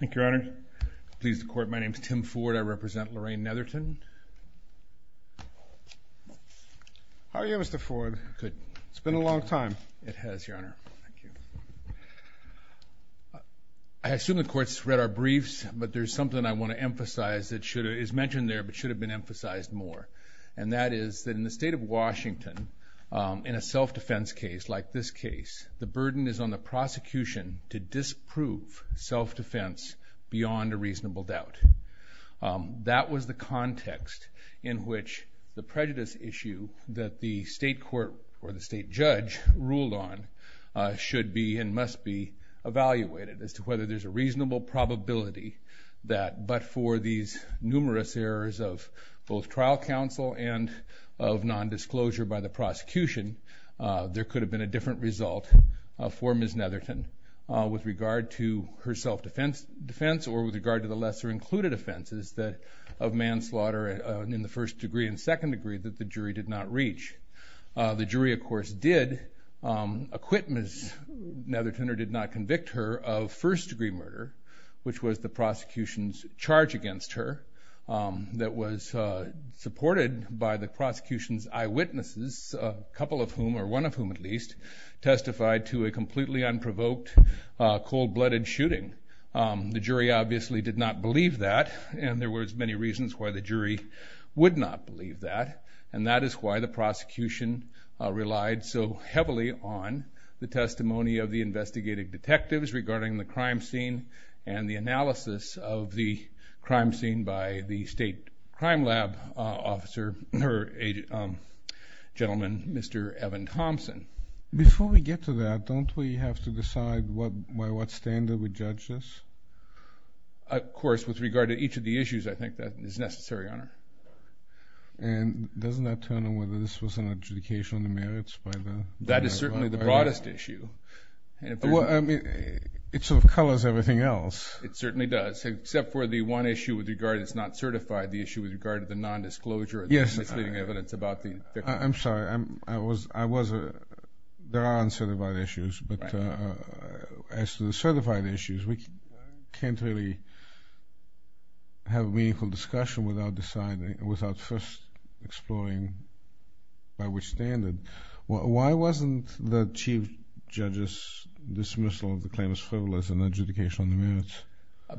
Thank you, Your Honor. Please, the Court. My name is Tim Ford. I represent Lorraine Netherton. How are you, Mr. Ford? Good. It's been a long time. It has, Your Honor. Thank you. I assume the Court's read our briefs, but there's something I want to emphasize that is mentioned there but should have been emphasized more. And that is that in the state of Washington, in a self-defense case like this case, the burden is on the prosecution to disprove self-defense beyond a reasonable doubt. That was the context in which the prejudice issue that the state court or the state judge ruled on should be and must be evaluated as to whether there's a reasonable probability that, but for these numerous errors of both trial counsel and of nondisclosure by the prosecution, there could have been a different result for Ms. Netherton with regard to her self-defense or with regard to the lesser-included offenses of manslaughter in the first degree and second degree that the jury did not reach. The jury, of course, did acquit Ms. Netherton or did not convict her of first-degree murder, which was the prosecution's charge against her that was supported by the prosecution's eyewitnesses, a couple of whom, or one of whom at least, testified to a completely unprovoked cold-blooded shooting. The jury obviously did not believe that, and there were many reasons why the jury would not believe that, and that is why the prosecution relied so heavily on the testimony of the investigative detectives regarding the crime scene and the analysis of the crime scene by the state crime lab officer, or gentleman, Mr. Evan Thompson. Before we get to that, don't we have to decide by what standard we judge this? Of course, with regard to each of the issues, I think that is necessary, Your Honor. And doesn't that turn on whether this was an adjudication on the merits by the… That is certainly the broadest issue. Well, I mean, it sort of colors everything else. It certainly does, except for the one issue with regard that's not certified, the issue with regard to the nondisclosure… Yes, Your Honor. I'm sorry. There are uncertified issues, but as to the certified issues, we can't really have a meaningful discussion without first exploring by which standard. Why wasn't the chief judge's dismissal of the claim as frivolous an adjudication on the merits?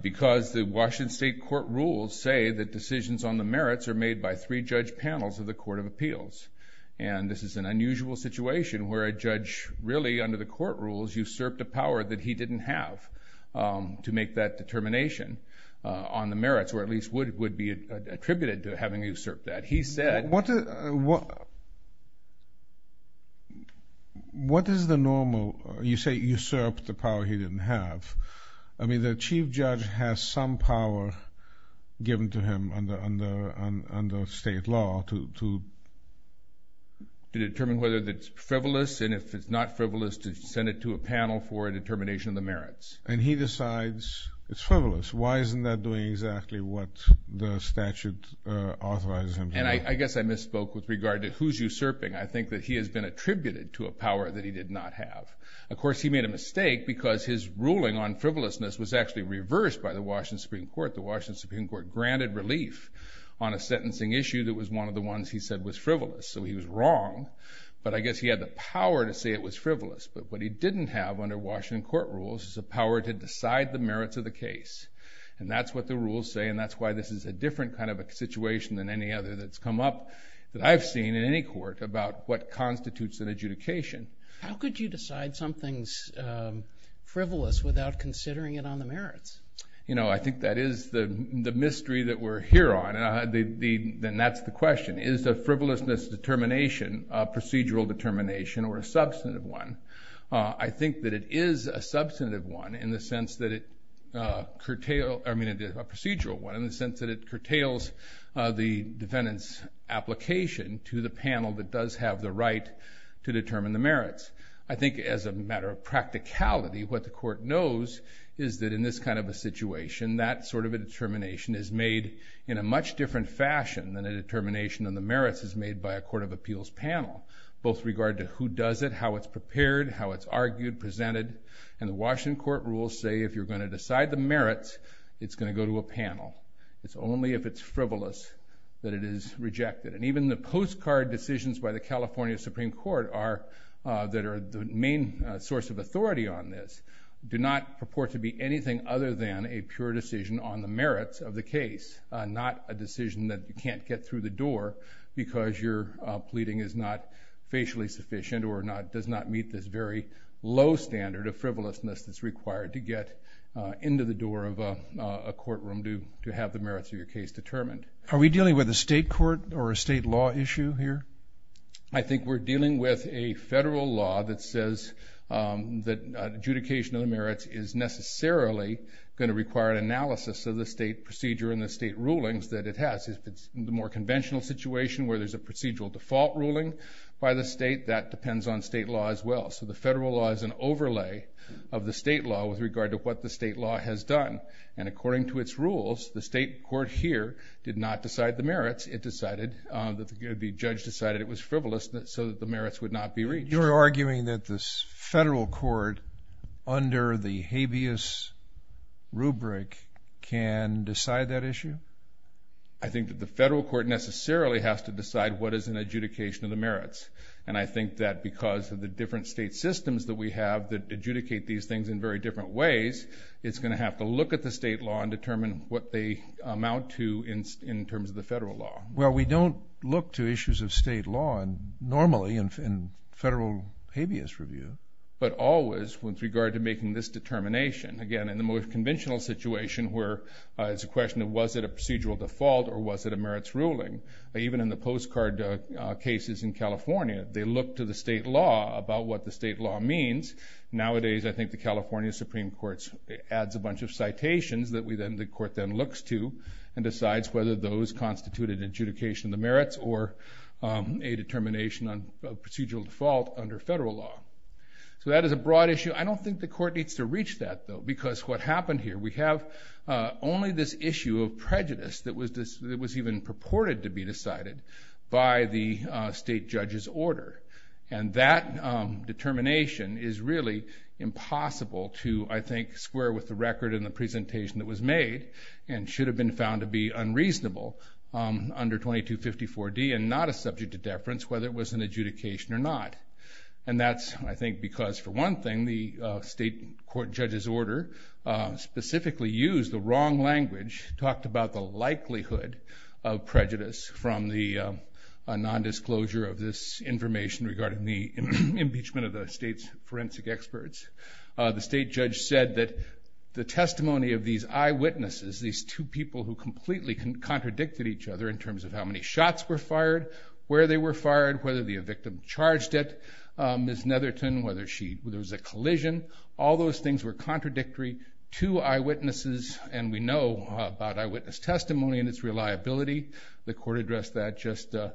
Because the Washington State court rules say that decisions on the merits are made by three judge panels of the Court of Appeals. And this is an unusual situation where a judge really, under the court rules, usurped a power that he didn't have to make that determination on the merits, or at least would be attributed to having usurped that. He said… What is the normal… You say usurped the power he didn't have. I mean, the chief judge has some power given to him under state law to… To determine whether it's frivolous, and if it's not frivolous, to send it to a panel for a determination of the merits. And he decides it's frivolous. Why isn't that doing exactly what the statute authorizes him to do? And I guess I misspoke with regard to who's usurping. I think that he has been attributed to a power that he did not have. Of course, he made a mistake because his ruling on frivolousness was actually reversed by the Washington Supreme Court. The Washington Supreme Court granted relief on a sentencing issue that was one of the ones he said was frivolous. So he was wrong, but I guess he had the power to say it was frivolous. But what he didn't have under Washington court rules is a power to decide the merits of the case. And that's what the rules say, and that's why this is a different kind of a situation than any other that's come up that I've seen in any court about what constitutes an adjudication. How could you decide something's frivolous without considering it on the merits? I think that is the mystery that we're here on, and that's the question. Is a frivolousness determination a procedural determination or a substantive one? I think that it is a substantive one in the sense that it curtails the defendant's application to the panel that does have the right to determine the merits. I think as a matter of practicality, what the court knows is that in this kind of a situation, that sort of a determination is made in a much different fashion than a determination on the merits is made by a court of appeals panel. Both regard to who does it, how it's prepared, how it's argued, presented. And the Washington court rules say if you're going to decide the merits, it's going to go to a panel. It's only if it's frivolous that it is rejected. And even the postcard decisions by the California Supreme Court that are the main source of authority on this do not purport to be anything other than a pure decision on the merits of the case. Not a decision that you can't get through the door because your pleading is not facially sufficient or does not meet this very low standard of frivolousness that's required to get into the door of a courtroom to have the merits of your case determined. Are we dealing with a state court or a state law issue here? I think we're dealing with a federal law that says that adjudication of the merits is necessarily going to require an analysis of the state procedure and the state rulings that it has. If it's the more conventional situation where there's a procedural default ruling by the state, that depends on state law as well. So the federal law is an overlay of the state law with regard to what the state law has done. And according to its rules, the state court here did not decide the merits. It decided that the judge decided it was frivolous so that the merits would not be reached. You're arguing that this federal court under the habeas rubric can decide that issue? I think that the federal court necessarily has to decide what is an adjudication of the merits. And I think that because of the different state systems that we have that adjudicate these things in very different ways, it's going to have to look at the state law and determine what they amount to in terms of the federal law. Well, we don't look to issues of state law normally in federal habeas review. But always with regard to making this determination, again, in the more conventional situation where it's a question of was it a procedural default or was it a merits ruling? Even in the postcard cases in California, they look to the state law about what the state law means. Nowadays, I think the California Supreme Court adds a bunch of citations that the court then looks to and decides whether those constitute an adjudication of the merits or a determination of procedural default under federal law. So that is a broad issue. I don't think the court needs to reach that, though, because what happened here, we have only this issue of prejudice that was even purported to be decided by the state judge's order. And that determination is really impossible to, I think, square with the record and the presentation that was made and should have been found to be unreasonable under 2254D and not a subject to deference, whether it was an adjudication or not. And that's, I think, because for one thing, the state court judge's order specifically used the wrong language, talked about the likelihood of prejudice from the nondisclosure of this information regarding the impeachment of the state's forensic experts. The state judge said that the testimony of these eyewitnesses, these two people who completely contradicted each other in terms of how many shots were fired, where they were fired, whether the victim charged it, Ms. Netherton, whether there was a collision, all those things were contradictory to eyewitnesses, and we know about eyewitness testimony and its reliability. The court addressed that just in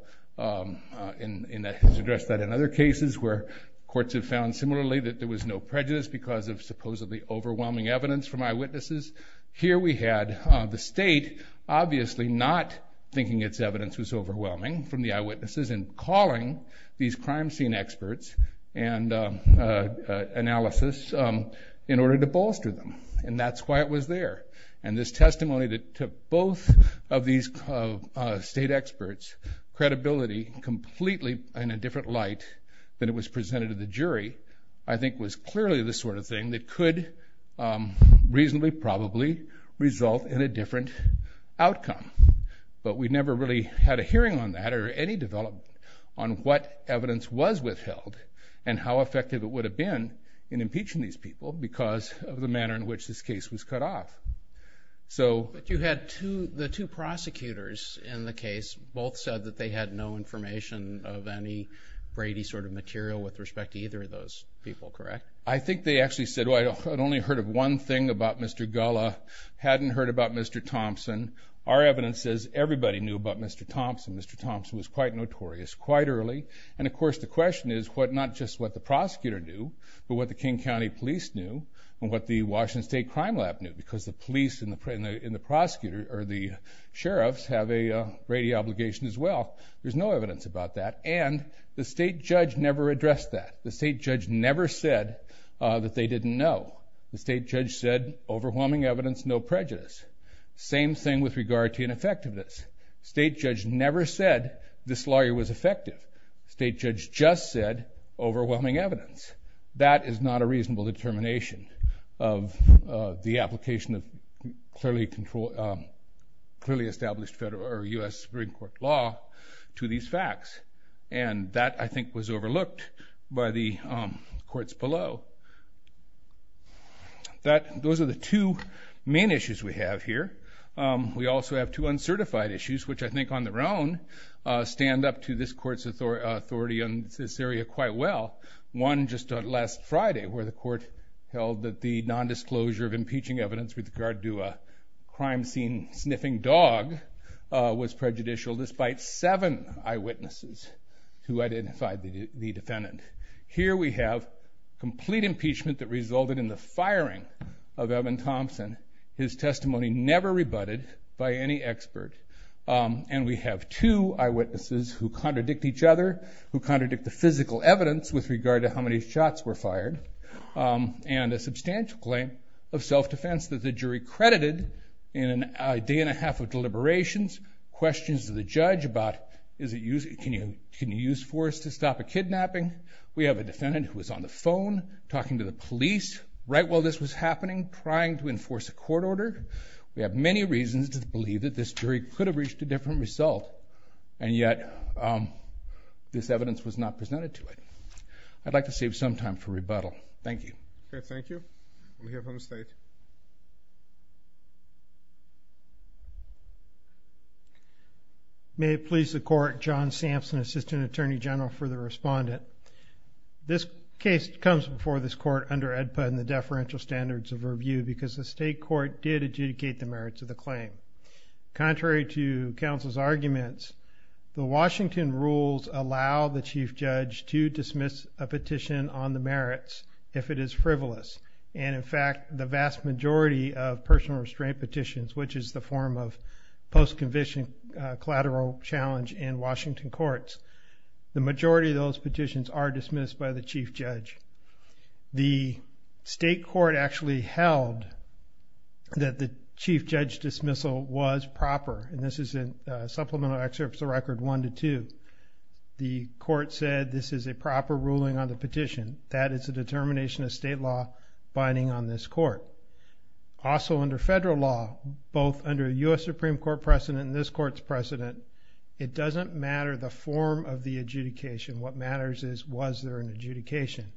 other cases where courts have found similarly that there was no prejudice because of supposedly overwhelming evidence from eyewitnesses. Here we had the state obviously not thinking its evidence was overwhelming from the eyewitnesses and calling these crime scene experts and analysis in order to bolster them. And that's why it was there. And this testimony that took both of these state experts' credibility completely in a different light than it was presented to the jury I think was clearly the sort of thing that could reasonably probably result in a different outcome. But we never really had a hearing on that or any development on what evidence was withheld and how effective it would have been in impeaching these people because of the manner in which this case was cut off. But you had the two prosecutors in the case both said that they had no information of any Brady sort of material with respect to either of those people, correct? I think they actually said, well, I'd only heard of one thing about Mr. Gullah, hadn't heard about Mr. Thompson. Our evidence says everybody knew about Mr. Thompson. Mr. Thompson was quite notorious quite early. And, of course, the question is what not just what the prosecutor knew but what the King County Police knew and what the Washington State Crime Lab knew because the police and the prosecutor or the sheriffs have a Brady obligation as well. There's no evidence about that. And the state judge never addressed that. The state judge never said that they didn't know. The state judge said overwhelming evidence, no prejudice. Same thing with regard to ineffectiveness. State judge never said this lawyer was effective. State judge just said overwhelming evidence. That is not a reasonable determination of the application of clearly established federal or U.S. Supreme Court law to these facts. And that, I think, was overlooked by the courts below. Those are the two main issues we have here. We also have two uncertified issues, which I think on their own stand up to this court's authority on this area quite well. One just last Friday where the court held that the nondisclosure of impeaching evidence with regard to a crime scene sniffing dog was prejudicial despite seven eyewitnesses who identified the defendant. Here we have complete impeachment that resulted in the firing of Evan Thompson, his testimony never rebutted by any expert. And we have two eyewitnesses who contradict each other, who contradict the physical evidence with regard to how many shots were fired. And a substantial claim of self-defense that the jury credited in a day and a half of deliberations, questions to the judge about can you use force to stop a kidnapping. We have a defendant who was on the phone talking to the police right while this was happening, trying to enforce a court order. We have many reasons to believe that this jury could have reached a different result, and yet this evidence was not presented to it. I'd like to save some time for rebuttal. Thank you. Okay, thank you. Let me hear from the State. May it please the Court, John Sampson, Assistant Attorney General for the Respondent. This case comes before this Court under AEDPA and the deferential standards of review because the State Court did adjudicate the merits of the claim. Contrary to counsel's arguments, the Washington rules allow the Chief Judge to dismiss a petition on the merits if it is frivolous. And in fact, the vast majority of personal restraint petitions, which is the form of post-conviction collateral challenge in Washington courts, the majority of those petitions are dismissed by the Chief Judge. The State Court actually held that the Chief Judge dismissal was proper, and this is in Supplemental Excerpts of Record 1 to 2. The Court said this is a proper ruling on the petition. That is a determination of State law binding on this Court. Also under Federal law, both under U.S. Supreme Court precedent and this Court's precedent, it doesn't matter the form of the adjudication. What matters is was there an adjudication.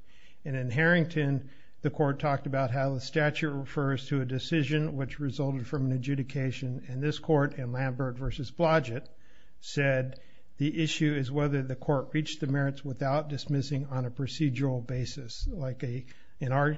And in Harrington, the Court talked about how the statute refers to a decision which resulted from an adjudication. And this Court in Lambert v. Blodgett said the issue is whether the Court reached the merits without dismissing on a procedural basis. Like in our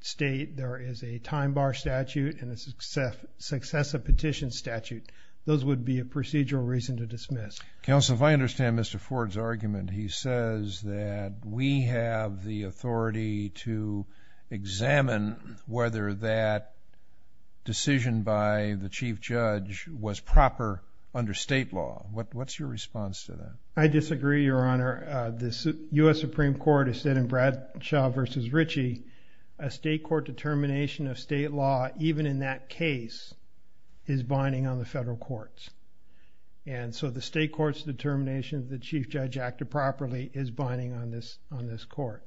state, there is a time bar statute and a successive petition statute. Those would be a procedural reason to dismiss. Counsel, if I understand Mr. Ford's argument, he says that we have the authority to examine whether that decision by the Chief Judge was proper under State law. What's your response to that? I disagree, Your Honor. The U.S. Supreme Court has said in Bradshaw v. Ritchie, a State court determination of State law, even in that case, is binding on the Federal courts. And so the State court's determination that the Chief Judge acted properly is binding on this Court.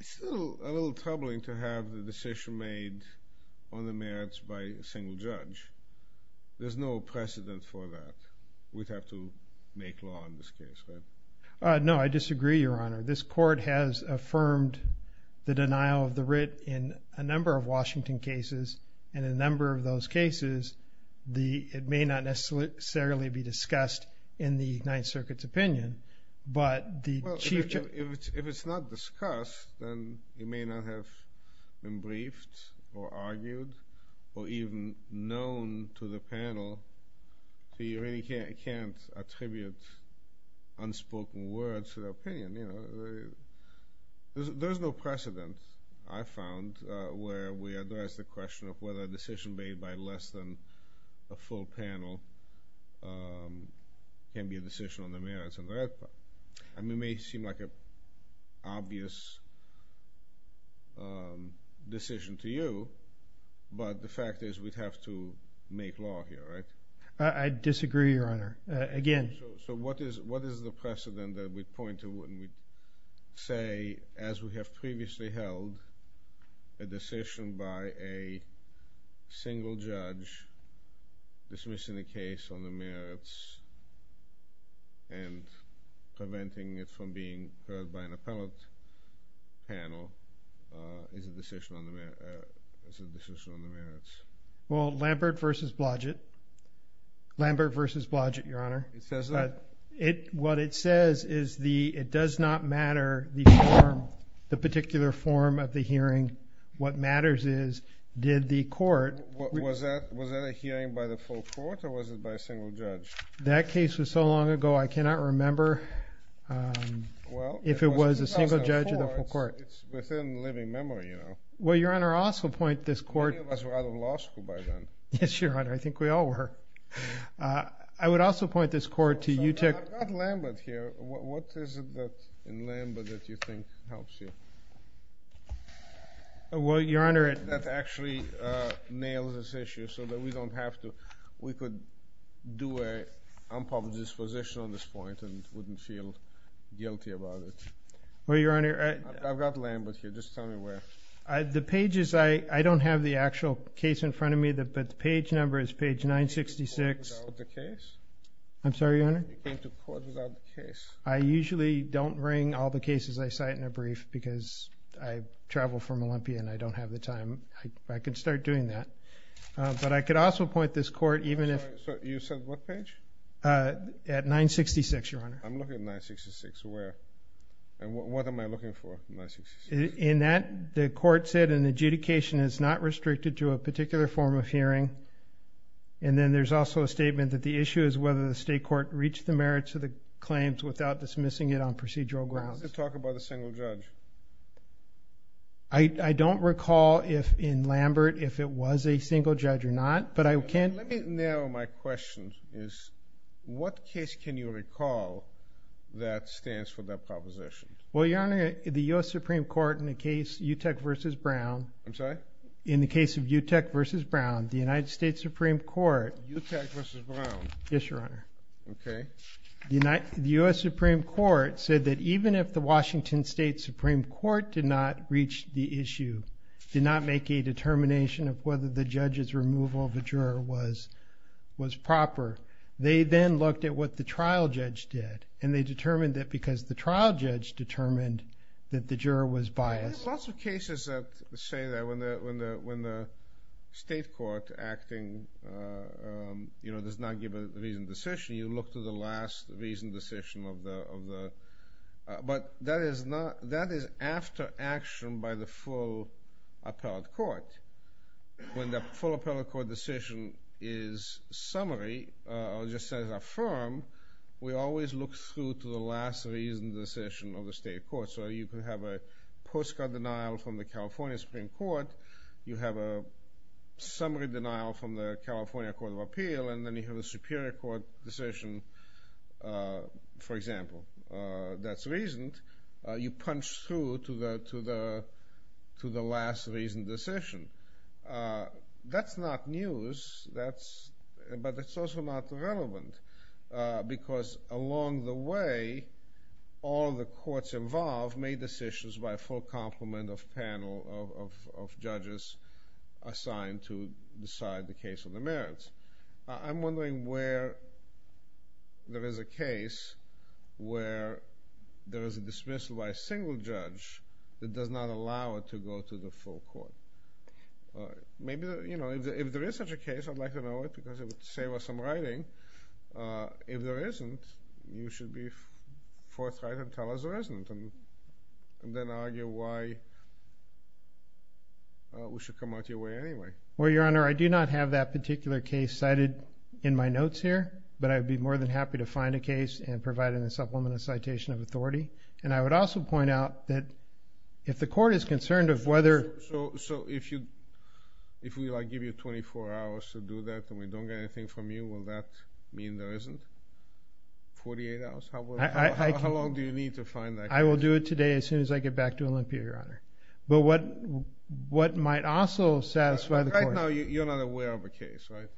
It's still a little troubling to have the decision made on the merits by a single judge. There's no precedent for that. We'd have to make law in this case, right? No, I disagree, Your Honor. This Court has affirmed the denial of the writ in a number of Washington cases. And in a number of those cases, it may not necessarily be discussed in the Ninth Circuit's opinion. Well, if it's not discussed, then it may not have been briefed or argued or even known to the panel. So you really can't attribute unspoken words to the opinion, you know. There's no precedent, I found, where we address the question of whether a decision made by less than a full panel can be a decision on the merits. I mean, it may seem like an obvious decision to you, but the fact is we'd have to make law here, right? So what is the precedent that we point to when we say, as we have previously held, a decision by a single judge dismissing a case on the merits and preventing it from being heard by an appellate panel is a decision on the merits? Well, Lambert v. Blodgett. Lambert v. Blodgett, Your Honor. It says that? What it says is it does not matter the form, the particular form of the hearing. What matters is, did the Court— Was that a hearing by the full Court or was it by a single judge? That case was so long ago, I cannot remember if it was a single judge or the full Court. It's within living memory, you know. Well, Your Honor, I also point this Court— Many of us were out of law school by then. Yes, Your Honor, I think we all were. I would also point this Court to you— I've got Lambert here. What is it in Lambert that you think helps you? Well, Your Honor— That actually nails this issue so that we don't have to—we could do an unpublished disposition on this point and wouldn't feel guilty about it. Well, Your Honor— I've got Lambert here. Just tell me where. The pages—I don't have the actual case in front of me, but the page number is page 966. You came to court without the case? I'm sorry, Your Honor? You came to court without the case. I usually don't bring all the cases I cite in a brief because I travel from Olympia and I don't have the time. I could start doing that. But I could also point this Court, even if— I'm sorry. You said what page? At 966, Your Honor. I'm looking at 966. Where? And what am I looking for in 966? In that, the Court said an adjudication is not restricted to a particular form of hearing, and then there's also a statement that the issue is whether the State Court reached the merits of the claims without dismissing it on procedural grounds. How does it talk about a single judge? I don't recall if, in Lambert, if it was a single judge or not, but I can— Let me narrow my questions. What case can you recall that stands for that proposition? Well, Your Honor, the U.S. Supreme Court in the case Utec v. Brown— I'm sorry? In the case of Utec v. Brown, the United States Supreme Court— Utec v. Brown. Yes, Your Honor. Okay. The U.S. Supreme Court said that even if the Washington State Supreme Court did not reach the issue, did not make a determination of whether the judge's removal of a juror was proper, they then looked at what the trial judge did, and they determined that because the trial judge determined that the juror was biased. There's lots of cases that say that when the State Court acting does not give a reasoned decision, you look to the last reasoned decision of the— But that is after action by the full appellate court. When the full appellate court decision is summary, or just as affirmed, we always look through to the last reasoned decision of the State Court. So you can have a postcard denial from the California Supreme Court. You have a summary denial from the California Court of Appeal, and then you have a superior court decision, for example, that's reasoned. You punch through to the last reasoned decision. That's not news, but it's also not relevant because along the way, all the courts involved made decisions by a full complement of panel of judges assigned to decide the case of the merits. I'm wondering where there is a case where there is a dismissal by a single judge that does not allow it to go to the full court. Maybe, you know, if there is such a case, I'd like to know it because it would save us some writing. If there isn't, you should be forthright and tell us there isn't, and then argue why we should come out your way anyway. Well, Your Honor, I do not have that particular case cited in my notes here, but I'd be more than happy to find a case and provide in a supplemental citation of authority. And I would also point out that if the court is concerned of whether… So if we, like, give you 24 hours to do that and we don't get anything from you, will that mean there isn't 48 hours? How long do you need to find that case? I will do it today as soon as I get back to Olympia, Your Honor. But what might also satisfy the court? Right now, you're not aware of a case, right?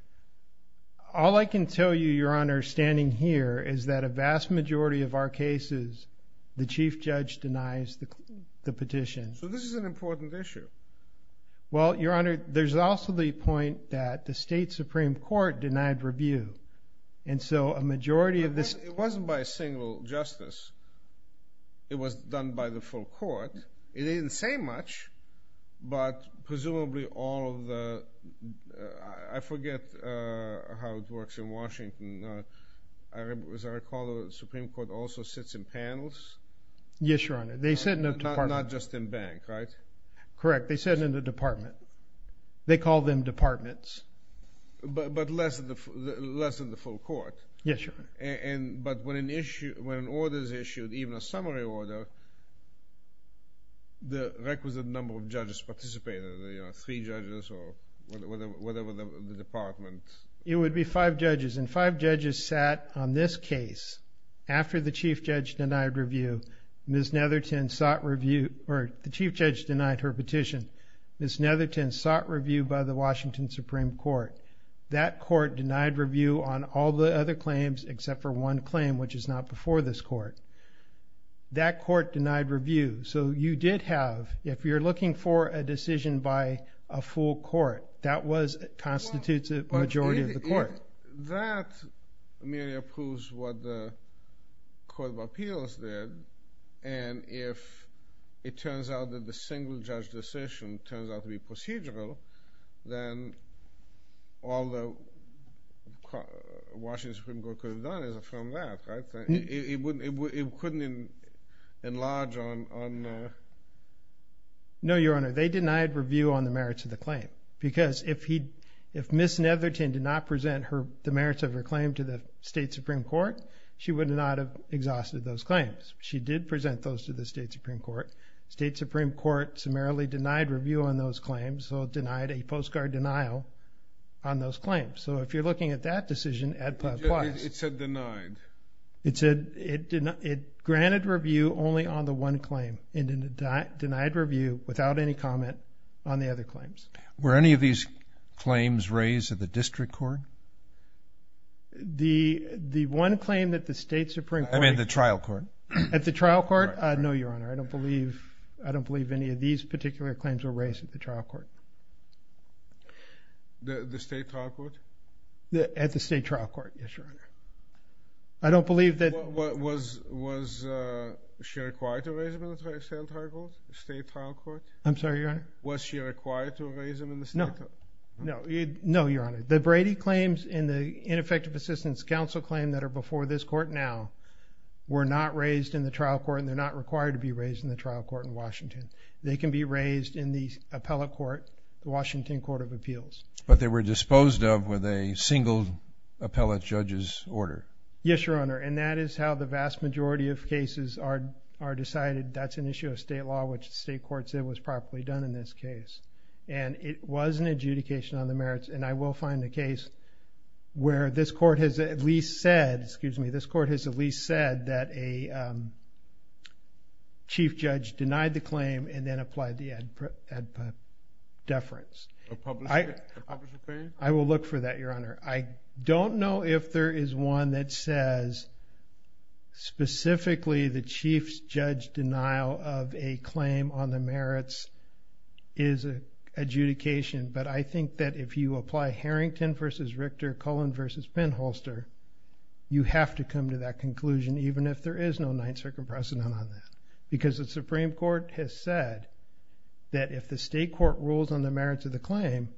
All I can tell you, Your Honor, standing here, is that a vast majority of our cases, the chief judge denies the petition. So this is an important issue. Well, Your Honor, there's also the point that the state supreme court denied review. And so a majority of this… It wasn't by a single justice. It was done by the full court. It didn't say much, but presumably all of the… I forget how it works in Washington. As I recall, the supreme court also sits in panels? Yes, Your Honor. They sit in a department. Not just in bank, right? Correct. They sit in a department. They call them departments. But less than the full court. Yes, Your Honor. But when an order is issued, even a summary order, the requisite number of judges participating, three judges or whatever the department… It would be five judges, and five judges sat on this case. After the chief judge denied her petition, Ms. Netherton sought review by the Washington supreme court. That court denied review on all the other claims except for one claim, which is not before this court. That court denied review. So you did have, if you're looking for a decision by a full court, that constitutes a majority of the court. That merely approves what the court of appeals did. And if it turns out that the single judge decision turns out to be procedural, then all the Washington supreme court could have done is affirm that. It couldn't enlarge on… No, Your Honor. They denied review on the merits of the claim. Because if Ms. Netherton did not present the merits of her claim to the state supreme court, she would not have exhausted those claims. She did present those to the state supreme court. State supreme court summarily denied review on those claims, so it denied a postcard denial on those claims. So if you're looking at that decision, ad plaus. It said denied. It said it granted review only on the one claim, and it denied review without any comment on the other claims. Were any of these claims raised at the district court? The one claim that the state supreme court… I mean the trial court. At the trial court? No, Your Honor. I don't believe any of these particular claims were raised at the trial court. The state trial court? At the state trial court, yes, Your Honor. I don't believe that… Was she required to raise them in the state trial court? I'm sorry, Your Honor. Was she required to raise them in the state trial court? No. No, Your Honor. The Brady claims and the ineffective assistance counsel claim that are before this court now were not raised in the trial court, and they're not required to be raised in the trial court in Washington. They can be raised in the appellate court, the Washington Court of Appeals. But they were disposed of with a single appellate judge's order. Yes, Your Honor, and that is how the vast majority of cases are decided. That's an issue of state law, which the state court said was properly done in this case. And it was an adjudication on the merits, and I will find a case where this court has at least said, excuse me, this court has at least said that a chief judge denied the claim and then applied the ad deference. A public opinion? I will look for that, Your Honor. I don't know if there is one that says specifically the chief judge's denial of a claim on the merits is an adjudication, but I think that if you apply Harrington v. Richter, Cullen v. Penholster, you have to come to that conclusion, even if there is no Ninth Circuit precedent on that. Because the Supreme Court has said that if the state court rules on the merits of the claim,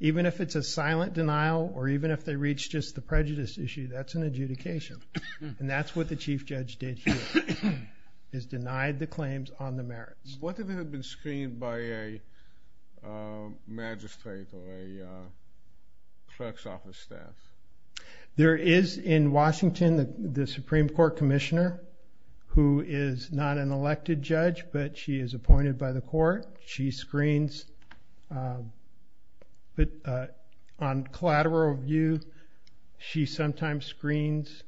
even if it's a silent denial or even if they reach just the prejudice issue, that's an adjudication. And that's what the chief judge did here, is denied the claims on the merits. What if it had been screened by a magistrate or a clerk's office staff? There is in Washington the Supreme Court commissioner who is not an elected judge, but she is appointed by the court. She screens on collateral review. She sometimes screens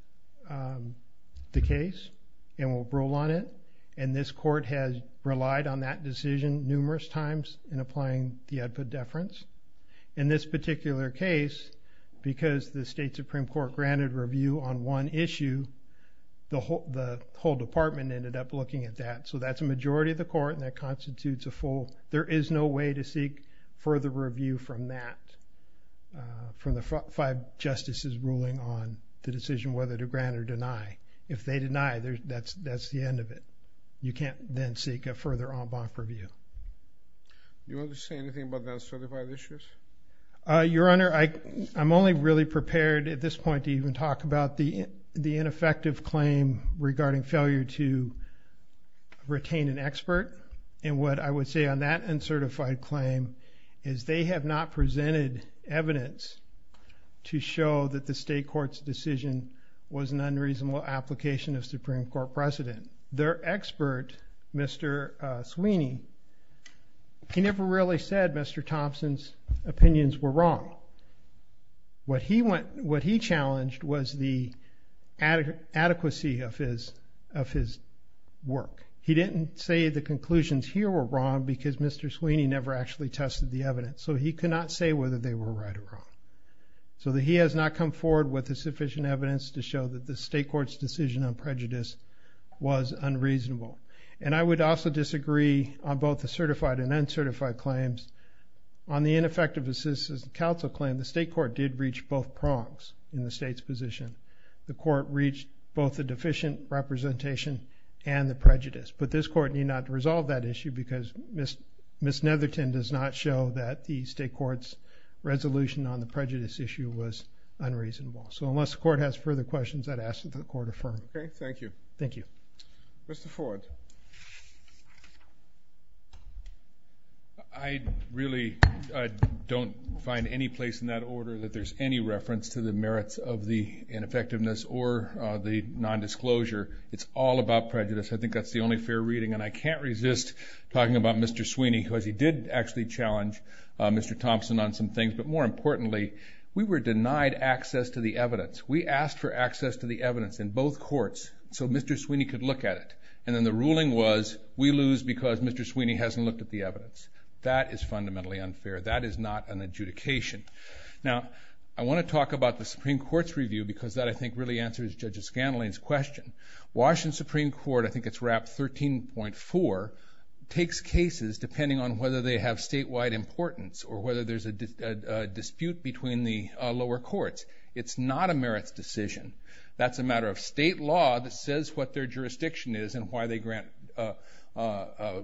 the case and will rule on it. And this court has relied on that decision numerous times in applying the EDPA deference. In this particular case, because the state Supreme Court granted review on one issue, the whole department ended up looking at that. So that's a majority of the court, and that constitutes a full. There is no way to seek further review from that, from the five justices ruling on the decision whether to grant or deny. If they deny, that's the end of it. You can't then seek a further en banc review. Do you want to say anything about the uncertified issues? Your Honor, I'm only really prepared at this point to even talk about the ineffective claim regarding failure to retain an expert. And what I would say on that uncertified claim is they have not presented evidence to show that the state court's decision was an unreasonable application of Supreme Court precedent. Their expert, Mr. Sweeney, he never really said Mr. Thompson's opinions were wrong. What he challenged was the adequacy of his work. He didn't say the conclusions here were wrong because Mr. Sweeney never actually tested the evidence. So he cannot say whether they were right or wrong. So he has not come forward with the sufficient evidence to show that the state court's decision on prejudice was unreasonable. And I would also disagree on both the certified and uncertified claims. On the ineffective assistance of counsel claim, the state court did reach both prongs in the state's position. The court reached both the deficient representation and the prejudice. But this court need not resolve that issue because Ms. Netherton does not show that the state court's resolution on the prejudice issue was unreasonable. So unless the court has further questions, I'd ask that the court affirm. Okay, thank you. Thank you. Mr. Ford. I really don't find any place in that order that there's any reference to the merits of the ineffectiveness or the nondisclosure. It's all about prejudice. I think that's the only fair reading, and I can't resist talking about Mr. Sweeney because he did actually challenge Mr. Thompson on some things. But more importantly, we were denied access to the evidence. We asked for access to the evidence in both courts so Mr. Sweeney could look at it. And then the ruling was we lose because Mr. Sweeney hasn't looked at the evidence. That is fundamentally unfair. That is not an adjudication. Now, I want to talk about the Supreme Court's review because that, I think, really answers Judge Scanlon's question. Washington Supreme Court, I think it's wrapped 13.4, takes cases depending on whether they have statewide importance or whether there's a dispute between the lower courts. It's not a merits decision. That's a matter of state law that says what their jurisdiction is and why they grant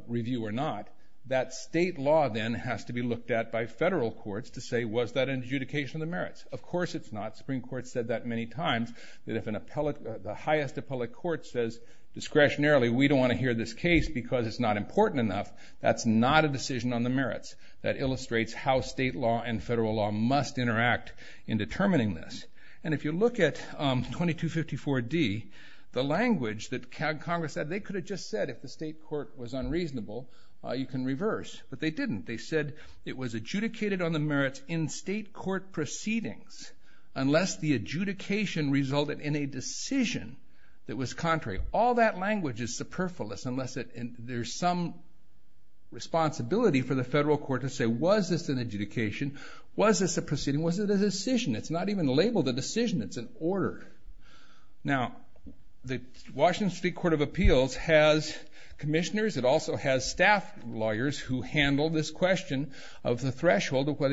review or not. That state law then has to be looked at by federal courts to say, was that an adjudication of the merits? Of course it's not. The Supreme Court said that many times, that if the highest appellate court says discretionarily, we don't want to hear this case because it's not important enough, that's not a decision on the merits. That illustrates how state law and federal law must interact in determining this. And if you look at 2254D, the language that Congress said, they could have just said if the state court was unreasonable, you can reverse. But they didn't. They said it was adjudicated on the merits in state court proceedings unless the adjudication resulted in a decision that was contrary. All that language is superfluous unless there's some responsibility for the federal court to say, was this an adjudication? Was this a proceeding? Was it a decision? It's not even labeled a decision. It's an order. Now, the Washington State Court of Appeals has commissioners. of whether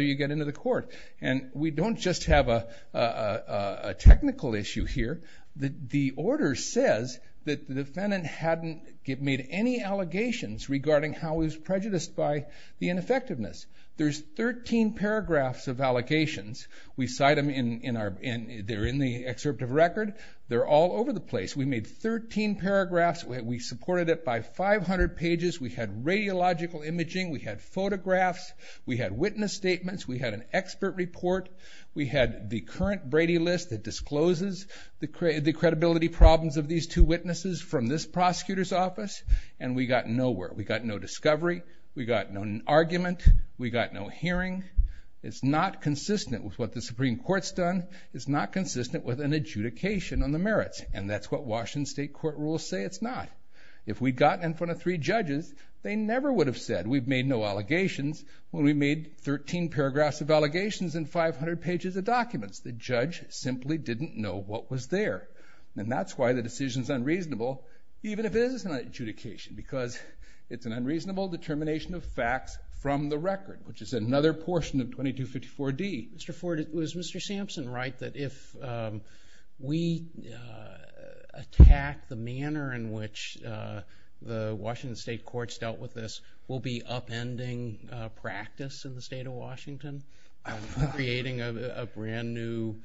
you get into the court. And we don't just have a technical issue here. The order says that the defendant hadn't made any allegations regarding how he was prejudiced by the ineffectiveness. There's 13 paragraphs of allegations. We cite them in the excerpt of record. They're all over the place. We made 13 paragraphs. We supported it by 500 pages. We had radiological imaging. We had photographs. We had witness statements. We had an expert report. We had the current Brady List that discloses the credibility problems of these two witnesses from this prosecutor's office. And we got nowhere. We got no discovery. We got no argument. We got no hearing. It's not consistent with what the Supreme Court's done. It's not consistent with an adjudication on the merits. And that's what Washington State Court rules say it's not. If we'd gotten in front of three judges, they never would have said, we've made no allegations, when we made 13 paragraphs of allegations and 500 pages of documents. The judge simply didn't know what was there. And that's why the decision's unreasonable, even if it is an adjudication, because it's an unreasonable determination of facts from the record, which is another portion of 2254D. Mr. Ford, was Mr. Sampson right that if we attack the manner in which the Washington State courts dealt with this, we'll be upending practice in the state of Washington, creating a brand new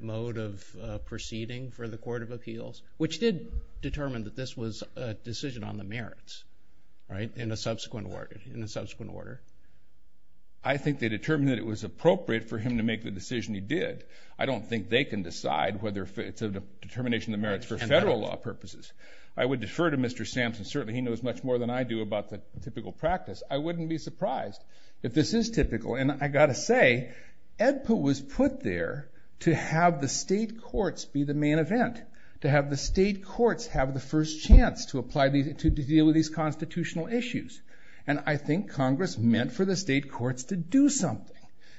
mode of proceeding for the Court of Appeals, which did determine that this was a decision on the merits, right, in a subsequent order? I think they determined that it was appropriate for him to make the decision he did. I don't think they can decide whether it's a determination of the merits for federal law purposes. I would defer to Mr. Sampson. Certainly he knows much more than I do about the typical practice. I wouldn't be surprised if this is typical. And I've got to say, EDPA was put there to have the state courts be the main event, to have the state courts have the first chance to deal with these constitutional issues. And I think Congress meant for the state courts to do something,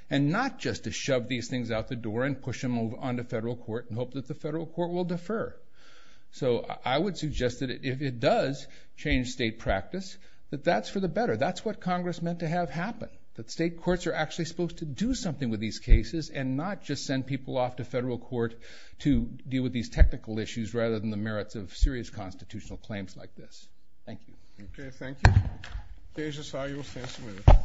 and not just to shove these things out the door and push them onto federal court and hope that the federal court will defer. So I would suggest that if it does change state practice, that that's for the better. That's what Congress meant to have happen, that state courts are actually supposed to do something with these cases and not just send people off to federal court to deal with these technical issues rather than the merits of serious constitutional claims like this. Thank you. Okay, thank you. Deja Sa, you will stand submitted.